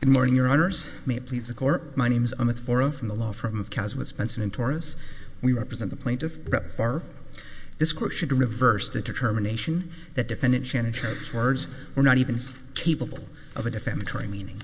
Good morning, Your Honors. May it please the Court. My name is Amit Vora from the Law Firm of Kazowitz, Benson & Torres. We represent the plaintiff, Brett Favre. This Court should reverse the determination that Defendant Shannon Sharpe's words were not even capable of a defamatory meaning.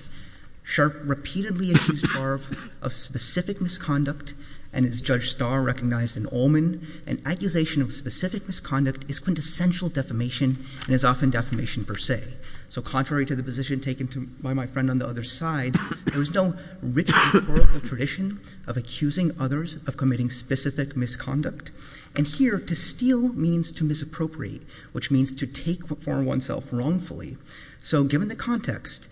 Sharpe repeatedly accused Favre of specific misconduct, and as Judge Starr recognized in Ullman, an accusation of specific misconduct is quintessential defamation and is often defamation per se. So contrary to the position taken by my friend on the other side, there is no rich historical tradition of accusing others of committing specific misconduct. And here, to steal means to misappropriate, which means to take for oneself wrongfully. So given the context,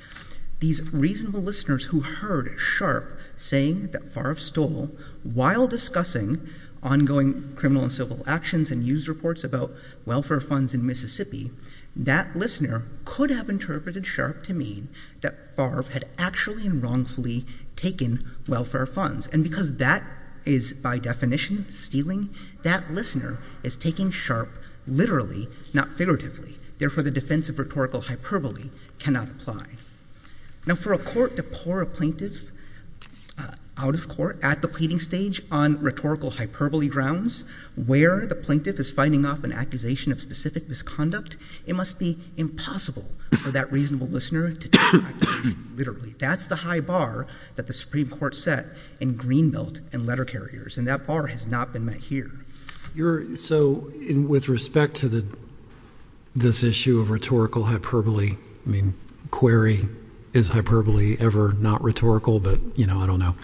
these reasonable listeners who heard Sharpe saying that Favre stole while discussing ongoing criminal and civil actions and news reports about welfare funds in Mississippi, that listener could have interpreted Sharpe to mean that Favre had actually and wrongfully taken welfare funds. And because that is by definition stealing, that listener is taking Sharpe literally, not figuratively. Therefore, the defense of rhetorical hyperbole cannot apply. Now, for a court to pour a plaintiff out of court at the pleading stage on rhetorical hyperbole grounds, where the plaintiff is fighting off an accusation of specific misconduct, it must be impossible for that reasonable listener to take that literally. That's the high bar that the Supreme Court set in Greenbelt and letter carriers, and that bar has not been met here. So with respect to this issue of rhetorical hyperbole, I mean, query, is hyperbole ever not rhetorical? But, you know, I don't know.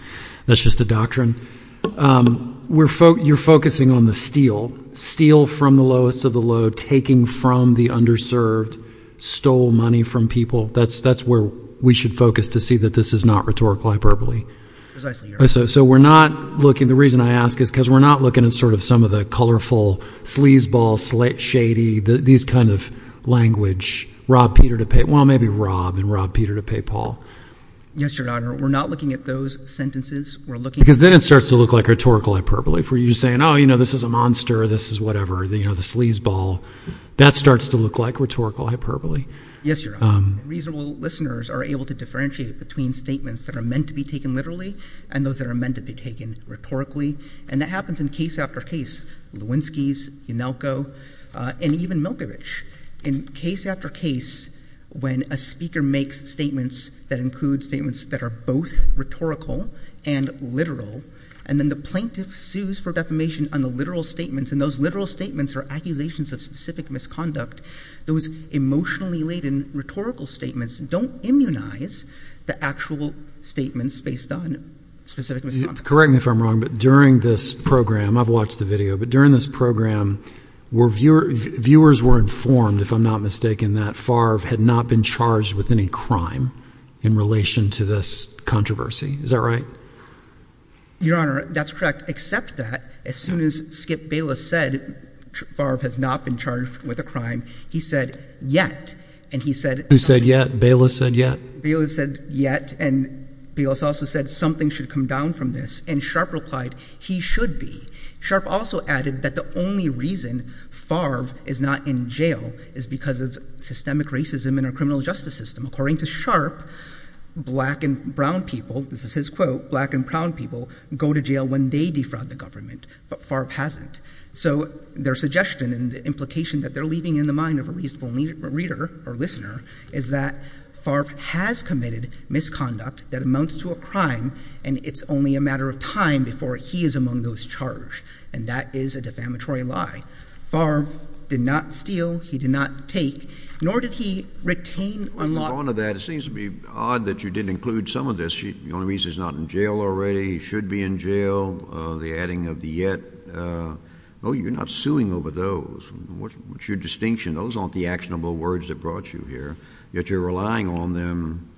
That's just the doctrine. You're focusing on the steal, steal from the lowest of the low, taking from the underserved, stole money from people. That's where we should focus to see that this is not rhetorical hyperbole. So we're not looking, the reason I ask is because we're not looking at sort of some of the colorful sleazeball, slate shady, these kind of language, Rob Peter to pay, well, maybe Rob and Rob Peter to pay Paul. Yes, Your Honor. We're not looking at those sentences. Because then it starts to look like rhetorical hyperbole for you saying, oh, you know, this is a monster, this is whatever, you know, the sleazeball. That starts to look like rhetorical hyperbole. Yes, Your Honor. Reasonable listeners are able to differentiate between statements that are meant to be taken literally and those that are meant to be taken rhetorically. And that happens in case after case, Lewinsky's, Yanelko, and even Milkovich. In case after case, when a speaker makes statements that include statements that are both rhetorical and literal, and then the plaintiff sues for defamation on the literal statements, and those literal statements are accusations of specific misconduct. Those emotionally laden rhetorical statements don't immunize the actual statements based on specific misconduct. Correct me if I'm wrong, but during this program, I've watched the video, but during this program, viewers were informed, if I'm not mistaken, that Favre had not been charged with any crime in relation to this controversy. Is that right? Your Honor, that's correct, except that as soon as Skip Bayless said Favre has not been charged with a crime, he said, yet, and he said Who said yet? Bayless said yet? Bayless said yet, and Bayless also said something should come down from this, and Sharpe replied, he should be. Sharpe also added that the only reason Favre is not in jail is because of systemic racism in our criminal justice system. According to Sharpe, black and brown people, this is his quote, black and brown people go to jail when they defraud the government, but Favre hasn't. So their suggestion and the implication that they're leaving in the mind of a reasonable reader or listener is that Favre has committed misconduct that amounts to a crime, and it's only a matter of time before he is among those charged, and that is a defamatory lie. Favre did not steal. He did not take, nor did he retain or not On the brunt of that, it seems to be odd that you didn't include some of this. The only reason he's not in jail already, he should be in jail, the adding of the yet, oh, you're not suing over those. What's your distinction? Those aren't the actionable words that brought you here, yet you're relying on them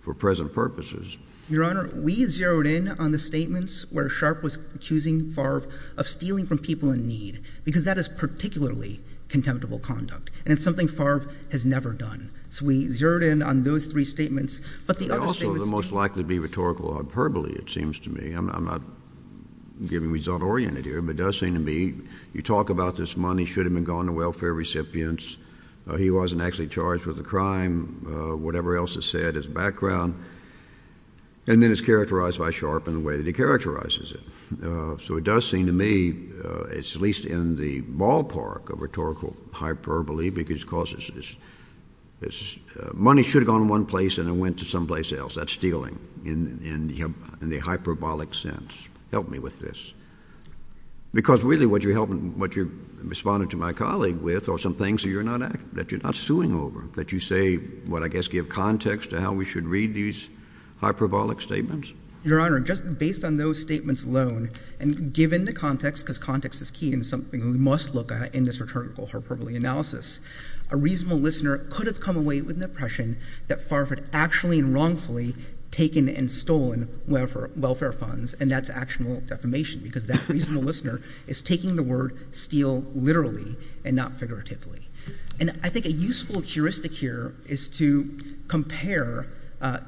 for present purposes. Your Honor, we zeroed in on the statements where Sharpe was accusing Favre of stealing from people in need, because that is particularly contemptible conduct, and it's something Favre has never done. So we zeroed in on those three statements, but the other statements likely to be rhetorical hyperbole, it seems to me. I'm not giving result-oriented here, but it does seem to me you talk about this money should have been gone to welfare recipients, he wasn't actually charged with a crime, whatever else is said is background, and then it's characterized by Sharpe in the way that he characterizes it. So it does seem to me it's at least in the ballpark of rhetorical hyperbole, because it's money should have gone one place and it went to someplace else. That's stealing in the hyperbolic sense. Help me with this. Because really what you're responding to my colleague with are some things that you're not suing over, that you say, what, I guess give context to how we should read these hyperbolic statements? Your Honor, just based on those statements alone, and given the context, because context is key and something we must look at in this rhetorical hyperbole analysis, a reasonable listener could have come away with an impression that Farr had actually and wrongfully taken and stolen welfare funds, and that's actual defamation, because that reasonable listener is taking the word steal literally and not figuratively. And I think a useful heuristic here is to compare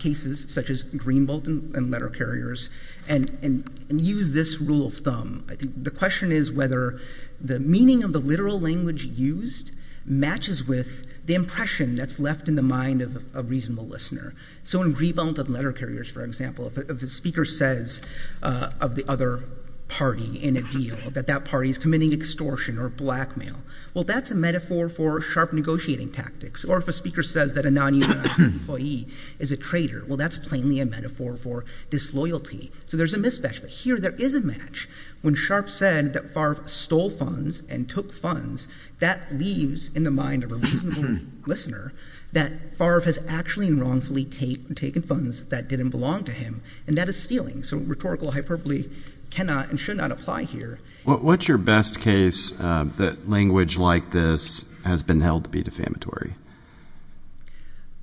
cases such as Greenbelt and letter carriers and use this rule of thumb. The question is whether the meaning of the literal language used matches with the impression that's left in the mind of a reasonable listener. So in Greenbelt and letter carriers, for example, if the speaker says of the other party in a deal that that party is committing extortion or blackmail, well, that's a metaphor for sharp negotiating tactics. Or if a speaker says that a non-unionized employee is a traitor, well, that's plainly a metaphor for disloyalty. So there's a mismatch, but here there is a match. When Sharpe said that Farr stole funds and took funds, that leaves in the mind of a reasonable listener that Farr has actually and wrongfully taken funds that didn't belong to him, and that is stealing. So rhetorical hyperbole cannot and should not apply here. What's your best case that language like this has been held to be defamatory?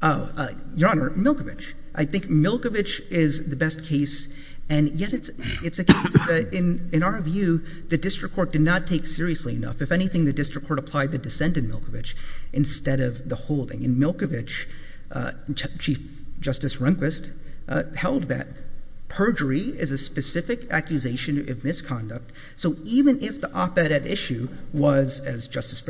Oh, Your Honor, Milkovich. I think Milkovich is the best case, and yet it's a case that in our view the district court did not take seriously enough. If anything, the district court applied the dissent in Milkovich instead of the holding. In Milkovich, Chief Justice Rehnquist held that perjury is a specific accusation of misconduct. So even if the op-ed at issue was, as Justice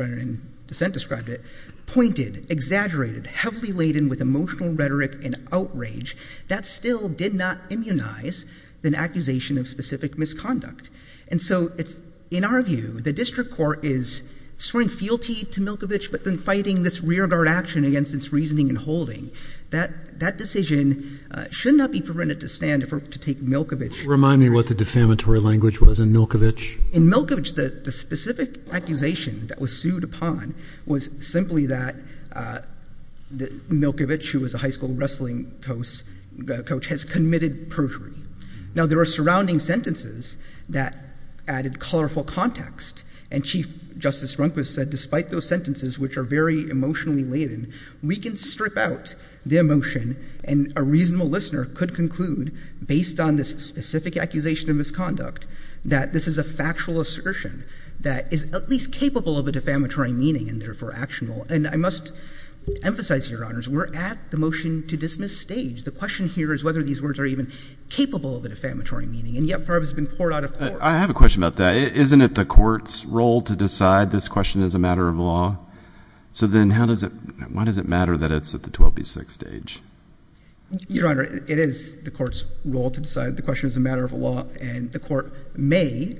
exaggerated, heavily laden with emotional rhetoric and outrage, that still did not immunize the accusation of specific misconduct. And so in our view, the district court is swearing fealty to Milkovich, but then fighting this rear-guard action against its reasoning and holding. That decision should not be prevented to stand to take Milkovich. Remind me what the defamatory language was in Milkovich. In Milkovich, the specific accusation that was sued upon was simply that Milkovich, who was a high school wrestling coach, has committed perjury. Now, there are surrounding sentences that added colorful context, and Chief Justice Rehnquist said despite those sentences, which are very emotionally laden, we can strip out the emotion and a reasonable listener could conclude, based on this specific accusation of misconduct, that this is a factual assertion that is at least capable of a defamatory meaning and therefore actionable. And I must emphasize, Your Honors, we're at the motion to dismiss stage. The question here is whether these words are even capable of a defamatory meaning, and yet part of it's been poured out of court. I have a question about that. Isn't it the court's role to decide this question is a matter of law? So then how does it, why does it matter that it's at the 12B6 stage? Your Honor, it is the court's role to decide the question is a matter of law, and the court may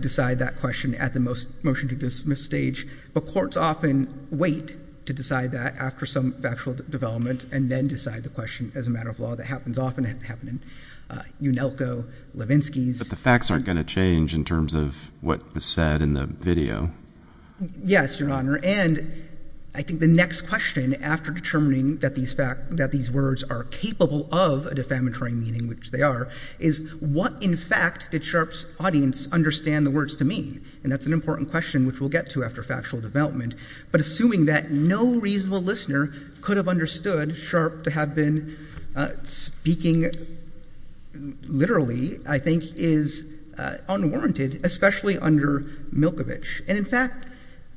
decide that question at the motion to dismiss stage, but courts often wait to decide that after some factual development and then decide the question as a matter of law that happens often. It happened in Unelco, Levinsky's. But the facts aren't going to change in terms of what was said in the video. Yes, Your Honor, and I think the next question after determining that these words are capable of a defamatory meaning, which they are, is what in fact did Sharpe's audience understand the words to mean? And that's an important question which we'll get to after factual development. But assuming that no reasonable listener could have understood Sharpe to have been speaking literally, I think is unwarranted, especially under Milkovich. And in fact,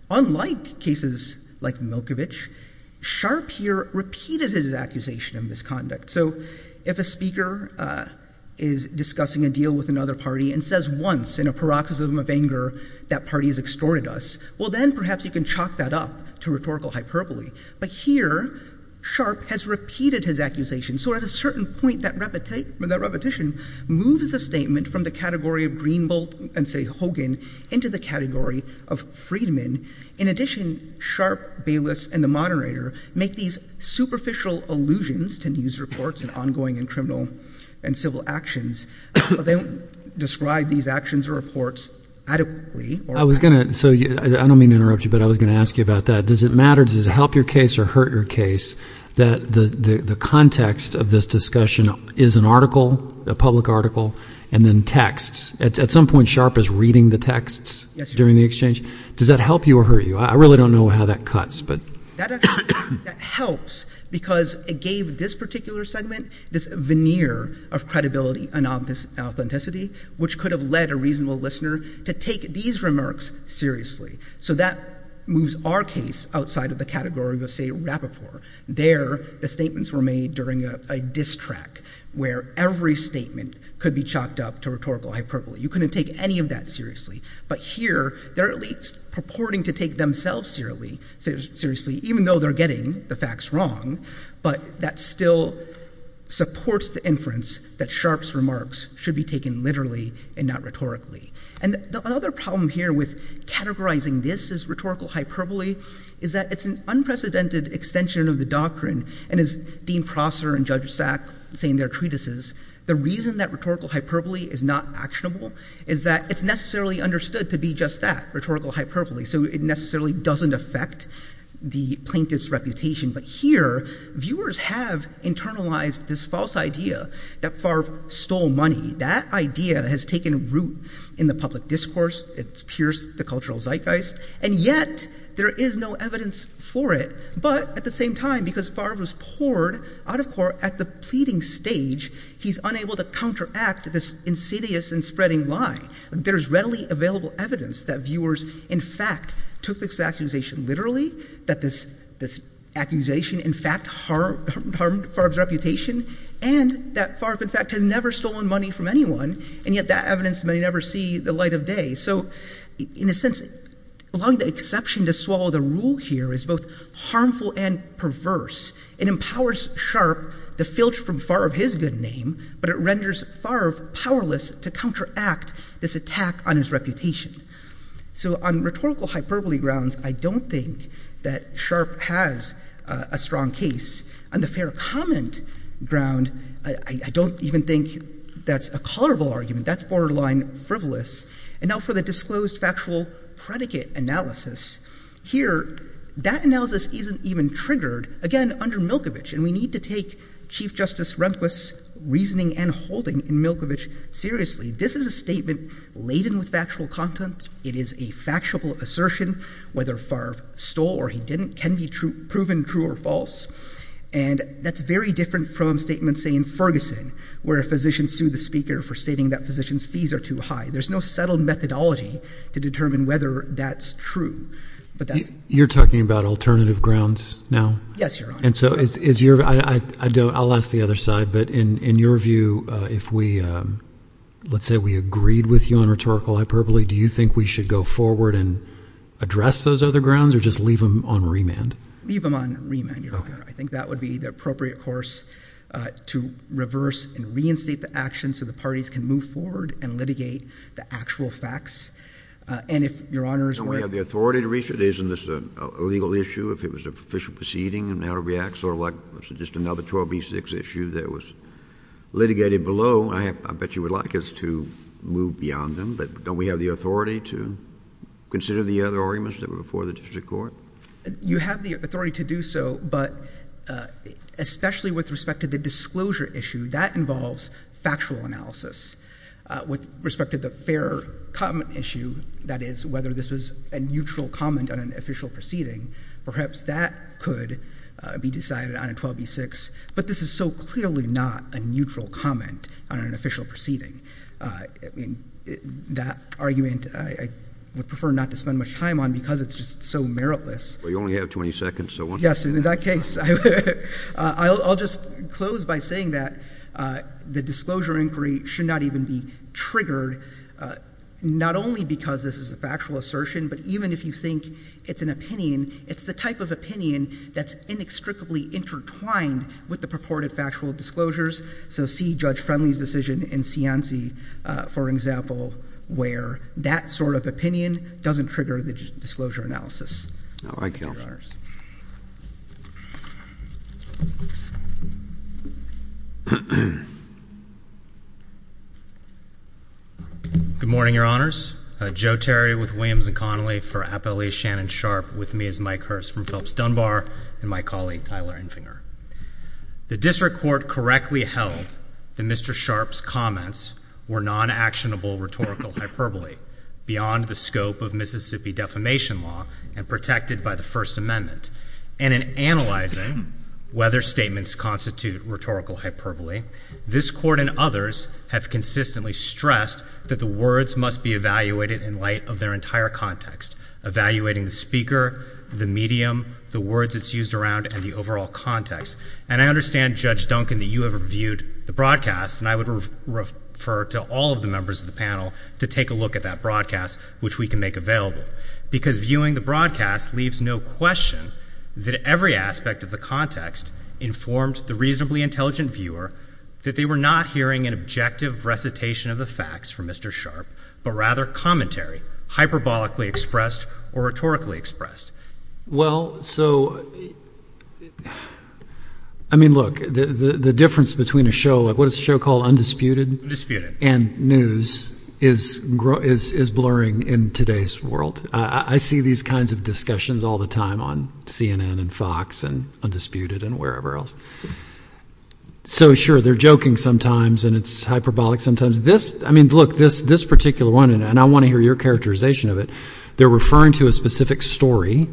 unlike cases like Milkovich, Sharpe here repeated his misconduct. So if a speaker is discussing a deal with another party and says once in a paroxysm of anger that party has extorted us, well then perhaps you can chalk that up to rhetorical hyperbole. But here, Sharpe has repeated his accusation. So at a certain point, that repetition moves a statement from the category of Greenbelt and say Hogan into the category of Friedman. In addition, Sharpe, Baylis, and the moderator make these superficial allusions to news reports and ongoing and criminal and civil actions, but they don't describe these actions or reports adequately. I was going to, so I don't mean to interrupt you, but I was going to ask you about that. Does it matter, does it help your case or hurt your case that the context of this discussion is an article, a public article, and then texts? At some point, Sharpe is reading the texts during the exchange. Does that help you or hurt you? I really don't know how that cuts, but. That helps because it gave this particular segment this veneer of credibility and authenticity, which could have led a reasonable listener to take these remarks seriously. So that moves our case outside of the category of say Rappaport. There, the statements were made during a diss track where every statement could be chalked up to rhetorical hyperbole. You couldn't take any of that seriously. But here, they're at least purporting to take themselves seriously, even though they're getting the facts wrong. But that still supports the inference that Sharpe's remarks should be taken literally and not rhetorically. And the other problem here with categorizing this as rhetorical hyperbole is that it's an unprecedented extension of the doctrine. And as Dean Prosser and Judge Sack say in their treatises, the reason that rhetorical hyperbole is not actionable is that it's necessarily understood to be just that, rhetorical hyperbole. So it necessarily doesn't affect the plaintiff's reputation. But here, viewers have internalized this false idea that Favre stole money. That idea has taken root in the public discourse. It's pierced the cultural zeitgeist. And yet, there is no evidence for it. But at the same time, because Favre was poured out of court at the pleading stage, he's unable to counteract this insidious and spreading lie. There is readily available evidence that viewers, in fact, took this accusation literally, that this accusation, in fact, harmed Favre's reputation, and that Favre, in fact, has never stolen money from anyone. And yet, that evidence may never see the light of day. So in a sense, allowing the exception to swallow the rule here is both harmful and perverse. It empowers Sharpe to filch from Favre his good name, but it renders Favre powerless to counteract this attack on his reputation. So on rhetorical hyperbole grounds, I don't think that Sharpe has a strong case. On the fair comment ground, I don't even think that's a colorable argument. That's borderline frivolous. And now for the disclosed factual predicate analysis, here, that analysis isn't even triggered, again, under Milkovich. And we need to take Chief Justice Rehnquist's reasoning and holding in Milkovich seriously. This is a statement laden with factual content. It is a factual assertion. Whether Favre stole or he didn't can be proven true or false. And that's very different from statements, say, in Ferguson, where a physician sued the speaker for stating that physicians' fees are too high. There's no settled methodology to determine whether that's true. But that's... You're talking about alternative grounds now? Yes, Your Honor. And so is your... I'll ask the other side, but in your view, if we... let's say we agreed with you on rhetorical hyperbole, do you think we should go forward and address those other grounds or just leave them on remand? Leave them on remand, Your Honor. I think that would be the appropriate course to reverse and reinstate the action so the parties can move forward and litigate the actual facts. And if Your Honor's were... Don't we have the authority to reach it? Isn't this a legal issue? If it was an official proceeding and how to react, sort of like just another 12B6 issue that was litigated below, I bet you would like us to move beyond them. But don't we have the authority to consider the other arguments that were before the district court? You have the authority to do so, but especially with respect to the disclosure issue, that involves factual analysis. With respect to the fair comment issue, that is whether this was a neutral comment on an official proceeding, perhaps that could be decided on a 12B6. But this is so clearly not a neutral comment on an official proceeding. I mean, that argument, I would prefer not to spend much time on because it's just so meritless. Well, you only have 20 seconds, so... Yes, in that case, I'll just close by saying that the disclosure inquiry should not even be triggered, not only because this is a factual assertion, but even if you think it's an opinion, it's the type of opinion that's inextricably intertwined with the purported factual disclosures. So see Judge Friendly's decision in Cianci, for example, where that sort of opinion doesn't trigger the disclosure analysis. Good morning, Your Honors. Joe Terry with Williams & Connolly for Appellate Shannon Sharp. With me is Mike Hurst from Phillips Dunbar and my colleague, Tyler Infinger. The district court correctly held that Mr. Sharp's comments were non-actionable rhetorical hyperbole beyond the scope of Mississippi Defamation Law and protected by the First Amendment. And in analyzing whether statements constitute rhetorical hyperbole, this court and others have consistently stressed that the words must be evaluated in light of their entire context, evaluating the speaker, the medium, the words it's used around, and the overall context. And I understand, Judge Duncan, that you have reviewed the broadcast, and I would refer to all of the members of the panel to take a look at that broadcast, which we can make available. Because viewing the broadcast leaves no question that every aspect of the context informed the reasonably intelligent viewer that they were not hearing an objective recitation of the facts from Mr. Sharp, but rather commentary, hyperbolically expressed or rhetorically expressed. Well, so, I mean, look, the difference between a show like, what is the show called, Undisputed? Undisputed. And news is blurring in today's world. I see these kinds of discussions all the time on CNN and Fox and Undisputed and wherever else. So sure, they're joking sometimes and it's hyperbolic sometimes. This, I mean, look, this particular one, and I want to hear your characterization of it, they're referring to a specific story,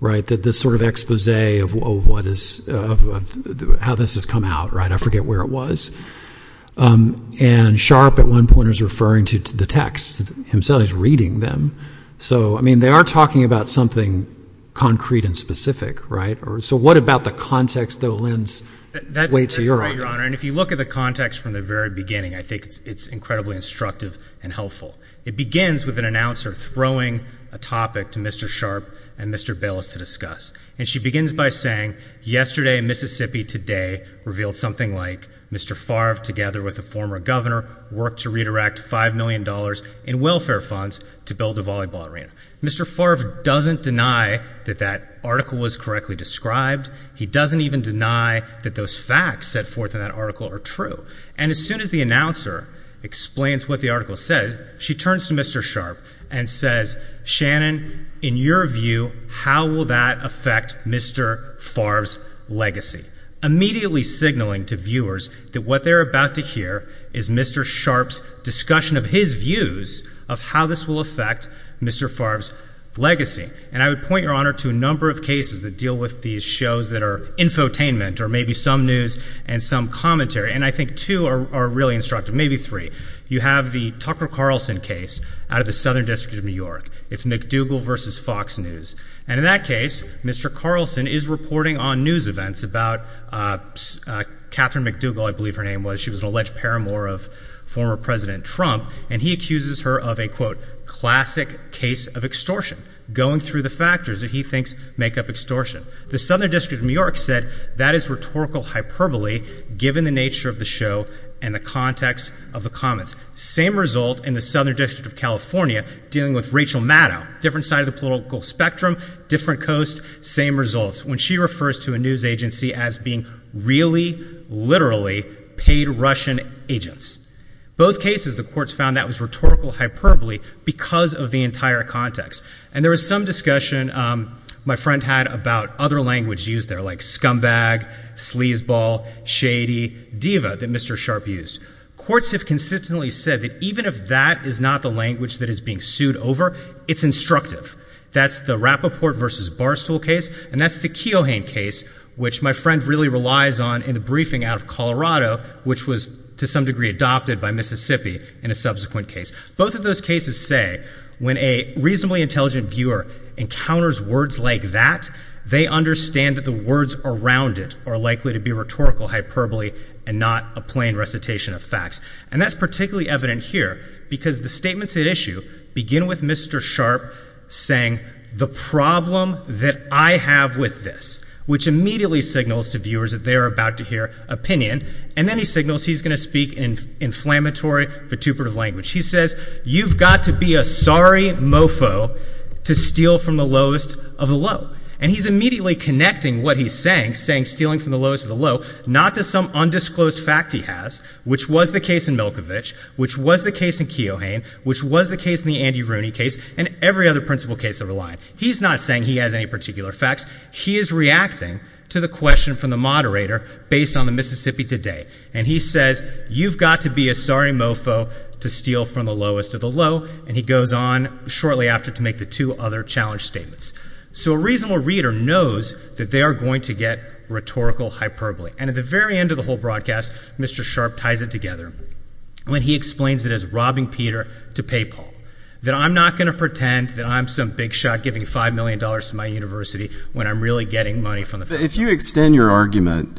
right, that this sort of expose of what is, of how this has come out, right? I forget where it was. And Sharp, at one point, was referring to the text, himself, he's reading them. So, I mean, they are talking about something concrete and specific, right? So what about the context, though, lends weight to your argument? If you look at the context from the very beginning, I think it's incredibly instructive and helpful. It begins with an announcer throwing a topic to Mr. Sharp and Mr. Bayless to discuss. And she begins by saying, yesterday, Mississippi Today revealed something like Mr. Favre, together with a former governor, worked to redirect $5 million in welfare funds to build a volleyball arena. Mr. Favre doesn't deny that that article was correctly described. He doesn't even deny that those facts set forth in that article are true. And as soon as the announcer explains what the article says, she turns to Mr. Sharp and says, Shannon, in your view, how will that affect Mr. Favre's legacy? Immediately signaling to viewers that what they're about to hear is Mr. Sharp's discussion of his views of how this will affect Mr. Favre's I think there are four cases that deal with these shows that are infotainment, or maybe some news and some commentary. And I think two are really instructive, maybe three. You have the Tucker Carlson case out of the Southern District of New York. It's McDougal versus Fox News. And in that case, Mr. Carlson is reporting on news events about Catherine McDougal, I believe her name was. She was an alleged paramour of former President Trump. And he accuses her of a, quote, classic case of extortion, going through the factors that he thinks make up extortion. The Southern District of New York said that is rhetorical hyperbole given the nature of the show and the context of the comments. Same result in the Southern District of California dealing with Rachel Maddow, different side of the political spectrum, different coast, same results. When she refers to a news agency as being really, literally paid Russian agents. Both cases, the courts found that was rhetorical hyperbole because of the entire context. And there was some discussion my friend had about other language used there like scumbag, sleazeball, shady, diva that Mr. Sharp used. Courts have consistently said that even if that is not the language that is being sued over, it's instructive. That's the Rappaport versus Barstool case. And that's the Keohane case, which my friend really relies on in the briefing out of Colorado, which was to some degree adopted by Mississippi in a subsequent case. Both of those cases say when a reasonably intelligent viewer encounters words like that, they understand that the words around it are likely to be rhetorical hyperbole and not a plain recitation of facts. And that's particularly evident here because the statements at issue begin with Mr. Sharp saying the problem that I have with this, which immediately signals to viewers that they're about to hear opinion. And then he signals he's going to speak in inflammatory, vituperative language. He says, you've got to be a sorry mofo to steal from the lowest of the low. And he's immediately connecting what he's saying, saying stealing from the lowest of the low, not to some undisclosed fact he has, which was the case in Milkovich, which was the case in Keohane, which was the case in the Andy Rooney case, and every other principle case that we're relying on. He's not saying he has any particular facts. He is reacting to the question from the moderator based on the Mississippi Today. And he says, you've got to be a sorry mofo to steal from the lowest of the low. And he goes on shortly after to make the two other challenge statements. So a reasonable reader knows that they are going to get rhetorical hyperbole. And at the very end of the whole broadcast, Mr. Sharp ties it together when he explains it as robbing Peter to pay Paul, that I'm not going to pretend that I'm some big $5 million to my university when I'm really getting money from the federal government. If you extend your argument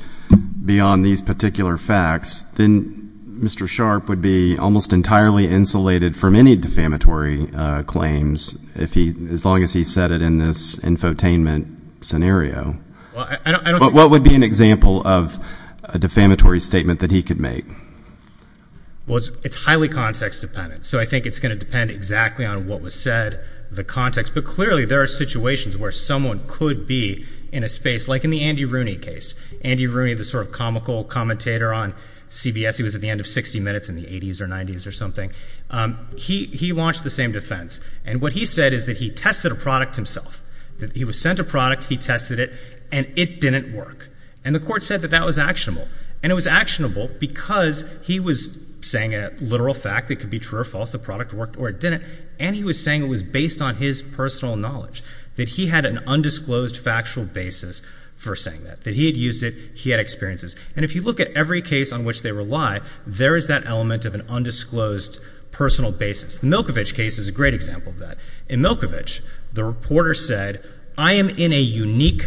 beyond these particular facts, then Mr. Sharp would be almost entirely insulated from any defamatory claims as long as he said it in this infotainment scenario. But what would be an example of a defamatory statement that he could make? Well, it's highly context dependent. So I think it's going to depend exactly on what was said, the context. But clearly, there are situations where someone could be in a space like in the Andy Rooney case. Andy Rooney, the sort of comical commentator on CBS, he was at the end of 60 minutes in the 80s or 90s or something. He launched the same defense. And what he said is that he tested a product himself, that he was sent a product, he tested it, and it didn't work. And the court said that that was actionable. And it was actionable because he was saying a literal fact that could be true or false, the product worked or it didn't. And he was saying it was based on his personal knowledge, that he had an undisclosed factual basis for saying that, that he had used it, he had experiences. And if you look at every case on which they rely, there is that element of an undisclosed personal basis. The Milkovich case is a great example of that. In Milkovich, the reporter said, I am in a unique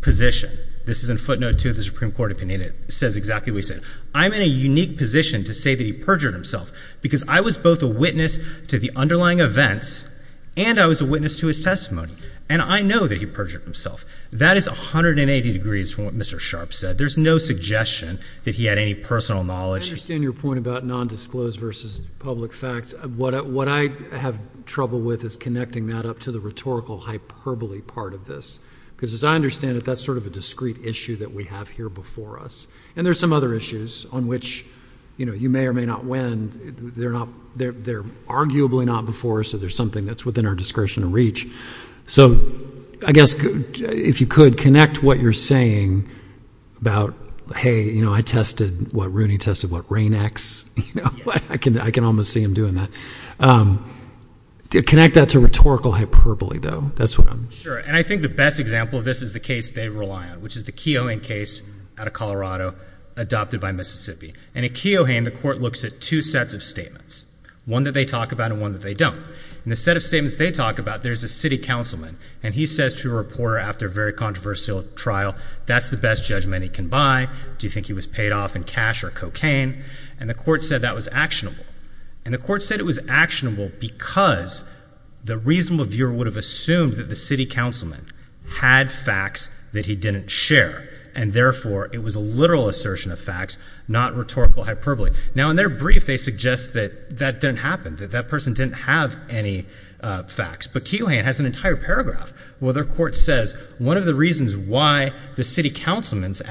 position. This is in footnote two of the Supreme Court opinion. It says exactly what he said. I'm in a unique position to say that he was both a witness to the underlying events and I was a witness to his testimony. And I know that he perjured himself. That is 180 degrees from what Mr. Sharpe said. There's no suggestion that he had any personal knowledge. I understand your point about non-disclosed versus public facts. What I have trouble with is connecting that up to the rhetorical hyperbole part of this. Because as I understand it, that's sort of a discrete issue that we have here before us. And there's some other issues on which you may or may not win. They're arguably not before us, so there's something that's within our discretion and reach. So I guess, if you could, connect what you're saying about, hey, I tested what Rooney tested, what Rain X. I can almost see him doing that. Connect that to rhetorical hyperbole, though. That's what I'm... Sure. And I think the best example of this is the case they rely on, which is the Keoghan case out of Colorado, adopted by Mississippi. And at Keoghan, the court looks at two sets of statements, one that they talk about and one that they don't. In the set of statements they talk about, there's a city councilman, and he says to a reporter after a very controversial trial, that's the best judgment he can buy. Do you think he was paid off in cash or cocaine? And the court said that was actionable. And the court said it was actionable because the reasonable viewer would have assumed that the city councilman had facts that he didn't share, and therefore, it was a literal assertion of facts, not rhetorical hyperbole. Now, in their brief, they suggest that that didn't happen, that that person didn't have any facts. But Keoghan has an entire paragraph where their court says, one of the reasons why the city councilman's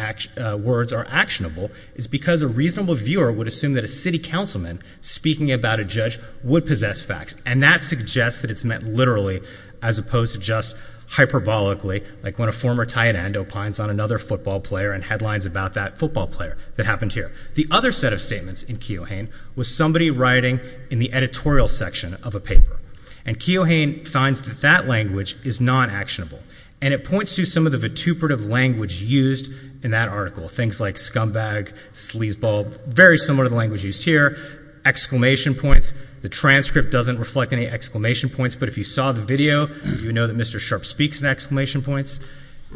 words are actionable is because a reasonable viewer would assume that a city councilman speaking about a judge would possess facts. And that suggests that it's meant literally, as opposed to just hyperbolically, like when a former tie and end opines on another football player and headlines about that football player that happened here. The other set of statements in Keoghan was somebody writing in the editorial section of a paper. And Keoghan finds that that language is non-actionable. And it points to some of the vituperative language used in that article, things like scumbag, sleazeball, very similar to the language used here, exclamation points. The transcript doesn't reflect any exclamation points. But if you saw the video, you know that Mr. Sharpe speaks in exclamation points.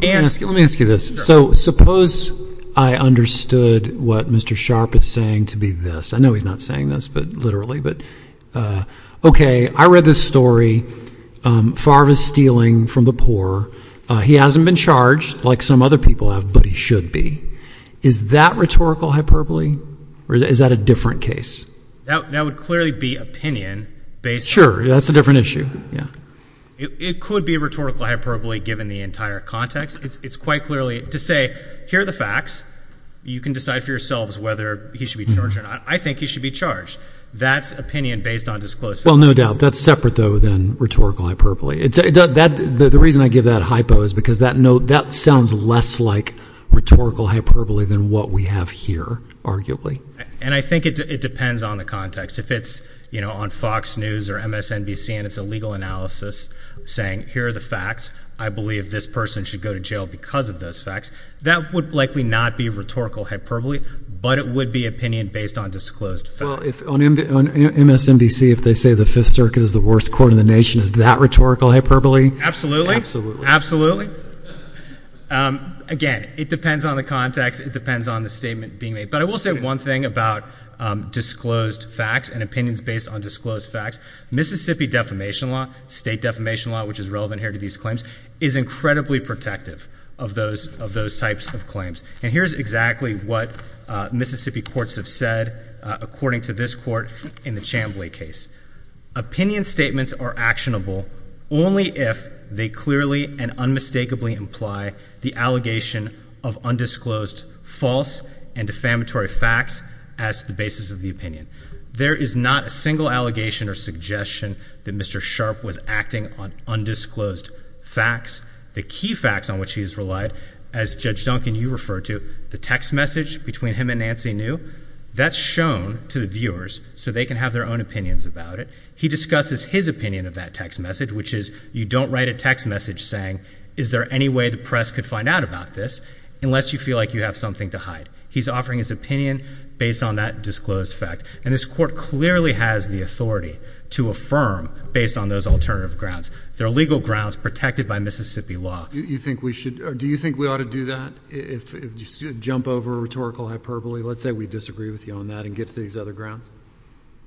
And let me ask you this. So suppose I understood what Mr. Sharpe is saying to be this. I know he's not saying this, but literally. But OK, I read this story, Favre is stealing from the poor. He hasn't been charged like some other people have, but he should be. Is that rhetorical hyperbole or is that a different case? That would clearly be opinion based. Sure, that's a different issue. Yeah. It could be rhetorical hyperbole given the entire context. It's quite clearly to say, here are the facts. You can decide for yourselves whether he should be charged or not. I think he should be charged. That's opinion based on disclosure. Well, no doubt that's separate, though, than rhetorical hyperbole. The reason I give that hypo is because that note, that sounds less like rhetorical hyperbole than what we have here, arguably. And I think it depends on the context. If it's on Fox News or MSNBC and it's a legal analysis saying, here are the facts. I believe this person should go to jail because of those facts. That would likely not be rhetorical hyperbole, but it would be opinion based on disclosed facts. Well, on MSNBC, if they say the Fifth Circuit is the worst court in the nation, is that rhetorical hyperbole? Absolutely. Absolutely. Again, it depends on the context. It depends on the statement being made. But I will say one thing about disclosed facts and opinions based on disclosed facts. Mississippi defamation law, state defamation law, which is relevant here to these claims, is incredibly protective of those types of claims. And here's exactly what Mississippi courts have said, according to this in the Chamblee case. Opinion statements are actionable only if they clearly and unmistakably imply the allegation of undisclosed false and defamatory facts as the basis of the opinion. There is not a single allegation or suggestion that Mr. Sharp was acting on undisclosed facts. The key facts on which he has relied, as Judge Duncan, you refer to the text message between him and Nancy Neu, that's shown to the viewers so they can have their own opinions about it. He discusses his opinion of that text message, which is you don't write a text message saying, is there any way the press could find out about this unless you feel like you have something to hide? He's offering his opinion based on that disclosed fact. And this court clearly has the authority to affirm based on those alternative grounds. They're legal grounds protected by Mississippi law. Do you think we should or do you think we ought to do that? If you jump over rhetorical hyperbole, let's say we disagree with you on that and get to these other grounds.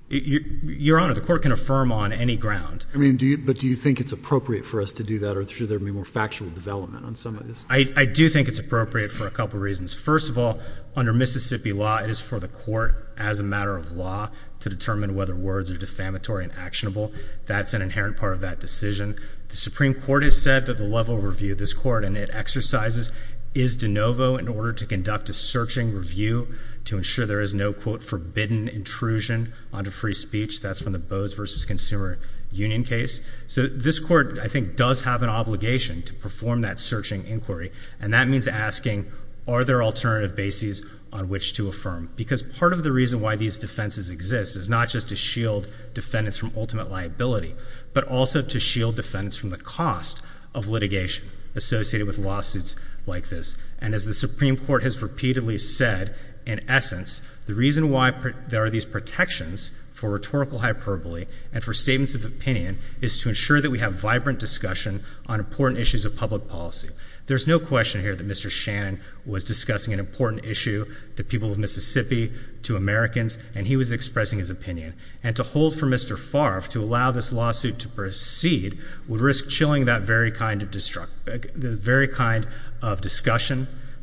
Your Honor, the court can affirm on any ground. I mean, do you but do you think it's appropriate for us to do that or should there be more factual development on some of this? I do think it's appropriate for a couple of reasons. First of all, under Mississippi law, it is for the court as a matter of law to determine whether words are defamatory and actionable. That's an inherent part of that decision. The Supreme Court has said that the level of review this court and it exercises is de novo in order to conduct a searching review to ensure there is no, quote, forbidden intrusion onto free speech. That's from the Bose v. Consumer Union case. So this court, I think, does have an obligation to perform that searching inquiry. And that means asking, are there alternative bases on which to affirm? Because part of the reason why these defenses exist is not just to shield defendants from ultimate liability, but also to shield defendants from the cost of litigation associated with lawsuits like this. And as the Supreme Court has repeatedly said, in essence, the reason why there are these protections for rhetorical hyperbole and for statements of opinion is to ensure that we have vibrant discussion on important issues of public policy. There's no question here that Mr. Shannon was discussing an important issue to people of Mississippi, to Americans, and he was expressing his opinion. And to hold for Mr. Shannon's lawsuit to proceed would risk chilling that very kind of discussion,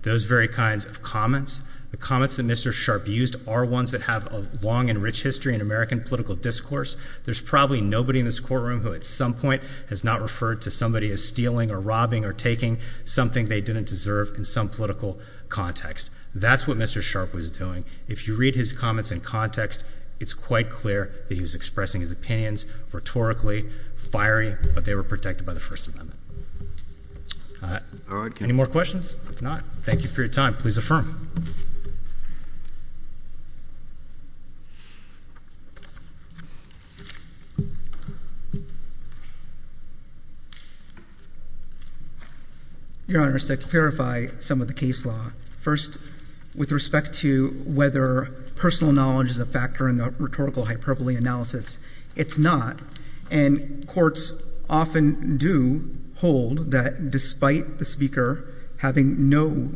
those very kinds of comments. The comments that Mr. Sharpe used are ones that have a long and rich history in American political discourse. There's probably nobody in this courtroom who at some point has not referred to somebody as stealing or robbing or taking something they didn't deserve in some political context. That's what Mr. Sharpe was doing. If you read his comments in context, it's quite clear that he was expressing his opinions rhetorically, fiery, but they were protected by the First Amendment. Any more questions? If not, thank you for your time. Please affirm. Your Honor, just to clarify some of the case law. First, with respect to whether personal knowledge is a factor in the rhetorical hyperbole analysis, it's not. And courts often do hold that despite the speaker having no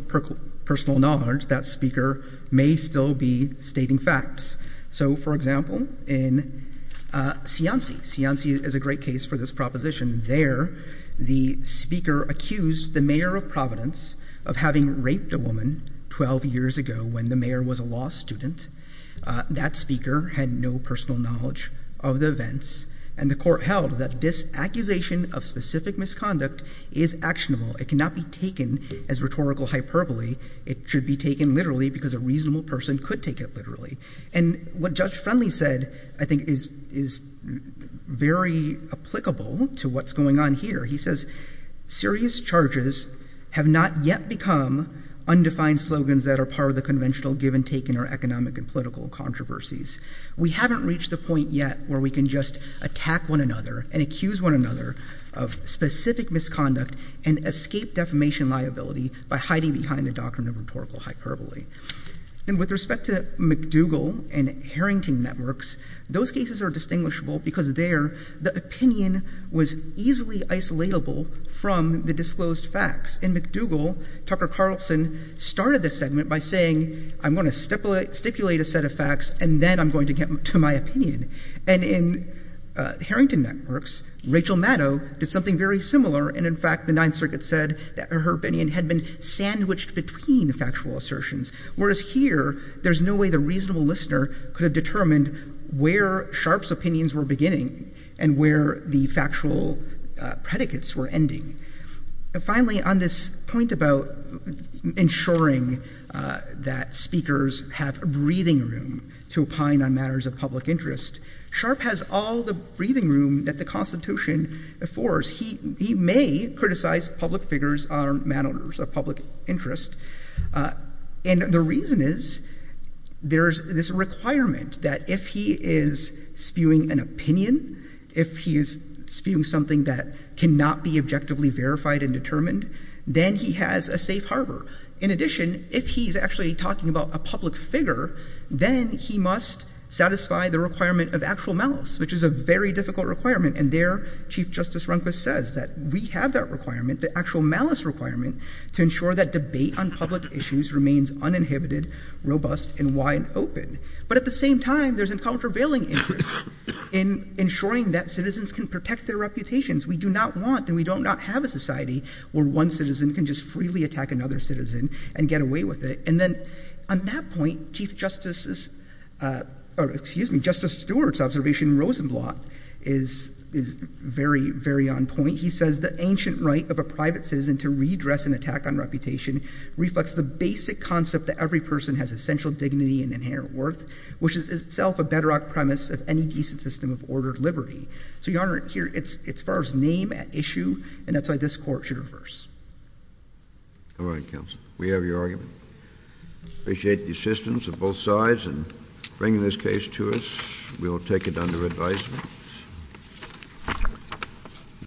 personal knowledge, that speaker may still be stating facts. So, for example, in Cianci. Cianci is a great case for this proposition. There, the speaker accused the mayor of Providence of having raped a woman 12 years ago when the mayor was a law student. That speaker had no personal knowledge of the events, and the court held that this accusation of specific misconduct is actionable. It cannot be taken as rhetorical hyperbole. It should be taken literally because a reasonable person could take it literally. And what Judge Friendly said, I think, is very applicable to what's going on here. He says, serious charges have not yet become undefined slogans that are part of the conventional give and take in our economic and political controversies. We haven't reached the point yet where we can just attack one another and accuse one another of specific misconduct and escape defamation liability by hiding behind the doctrine of rhetorical hyperbole. And with respect to McDougall and Harrington networks, those cases are distinguishable because there, the opinion was easily isolatable from the disclosed facts. In McDougall, Dr. Carlson started this segment by saying, I'm going to stipulate a set of facts, and then I'm going to get to my opinion. And in Harrington networks, Rachel Maddow did something very similar. And in fact, the Ninth Circuit said that her opinion had been sandwiched between factual assertions. Whereas here, there's no way the reasonable listener could have determined where Sharpe's opinions were beginning and where the factual predicates were ending. Finally, on this point about ensuring that speakers have a breathing room to opine on matters of public interest, Sharpe has all the breathing room that the Constitution affords. He may criticize public figures on matters of public interest. And the reason is there's this requirement that if he is spewing an opinion, if he is spewing something that cannot be objectively verified and determined, then he has a safe harbor. In addition, if he's actually talking about a public figure, then he must satisfy the requirement of actual malice, which is a very difficult requirement. And there, Chief Justice Rundquist says that we have that requirement, the actual malice requirement, to ensure that debate on public issues remains uninhibited, robust, and wide open. But at the same time, there's a countervailing interest in ensuring that citizens can protect their reputations. We do not want and we do not have a society where one citizen can just freely attack another citizen and get away with it. And then on that point, Chief Justice's, or excuse me, Justice Stewart's observation in Rosenblatt is very, very on point. He says, the ancient right of a private citizen to redress an attack on reputation reflects the basic concept that every person has essential dignity and inherent worth, which is itself a bedrock premise of any decent system of ordered liberty. So, Your Honor, here it's as far as name at issue, and that's why this Court should reverse. All right, counsel. We have your argument. Appreciate the assistance of both sides in bringing this case to us. We will take it under advisement.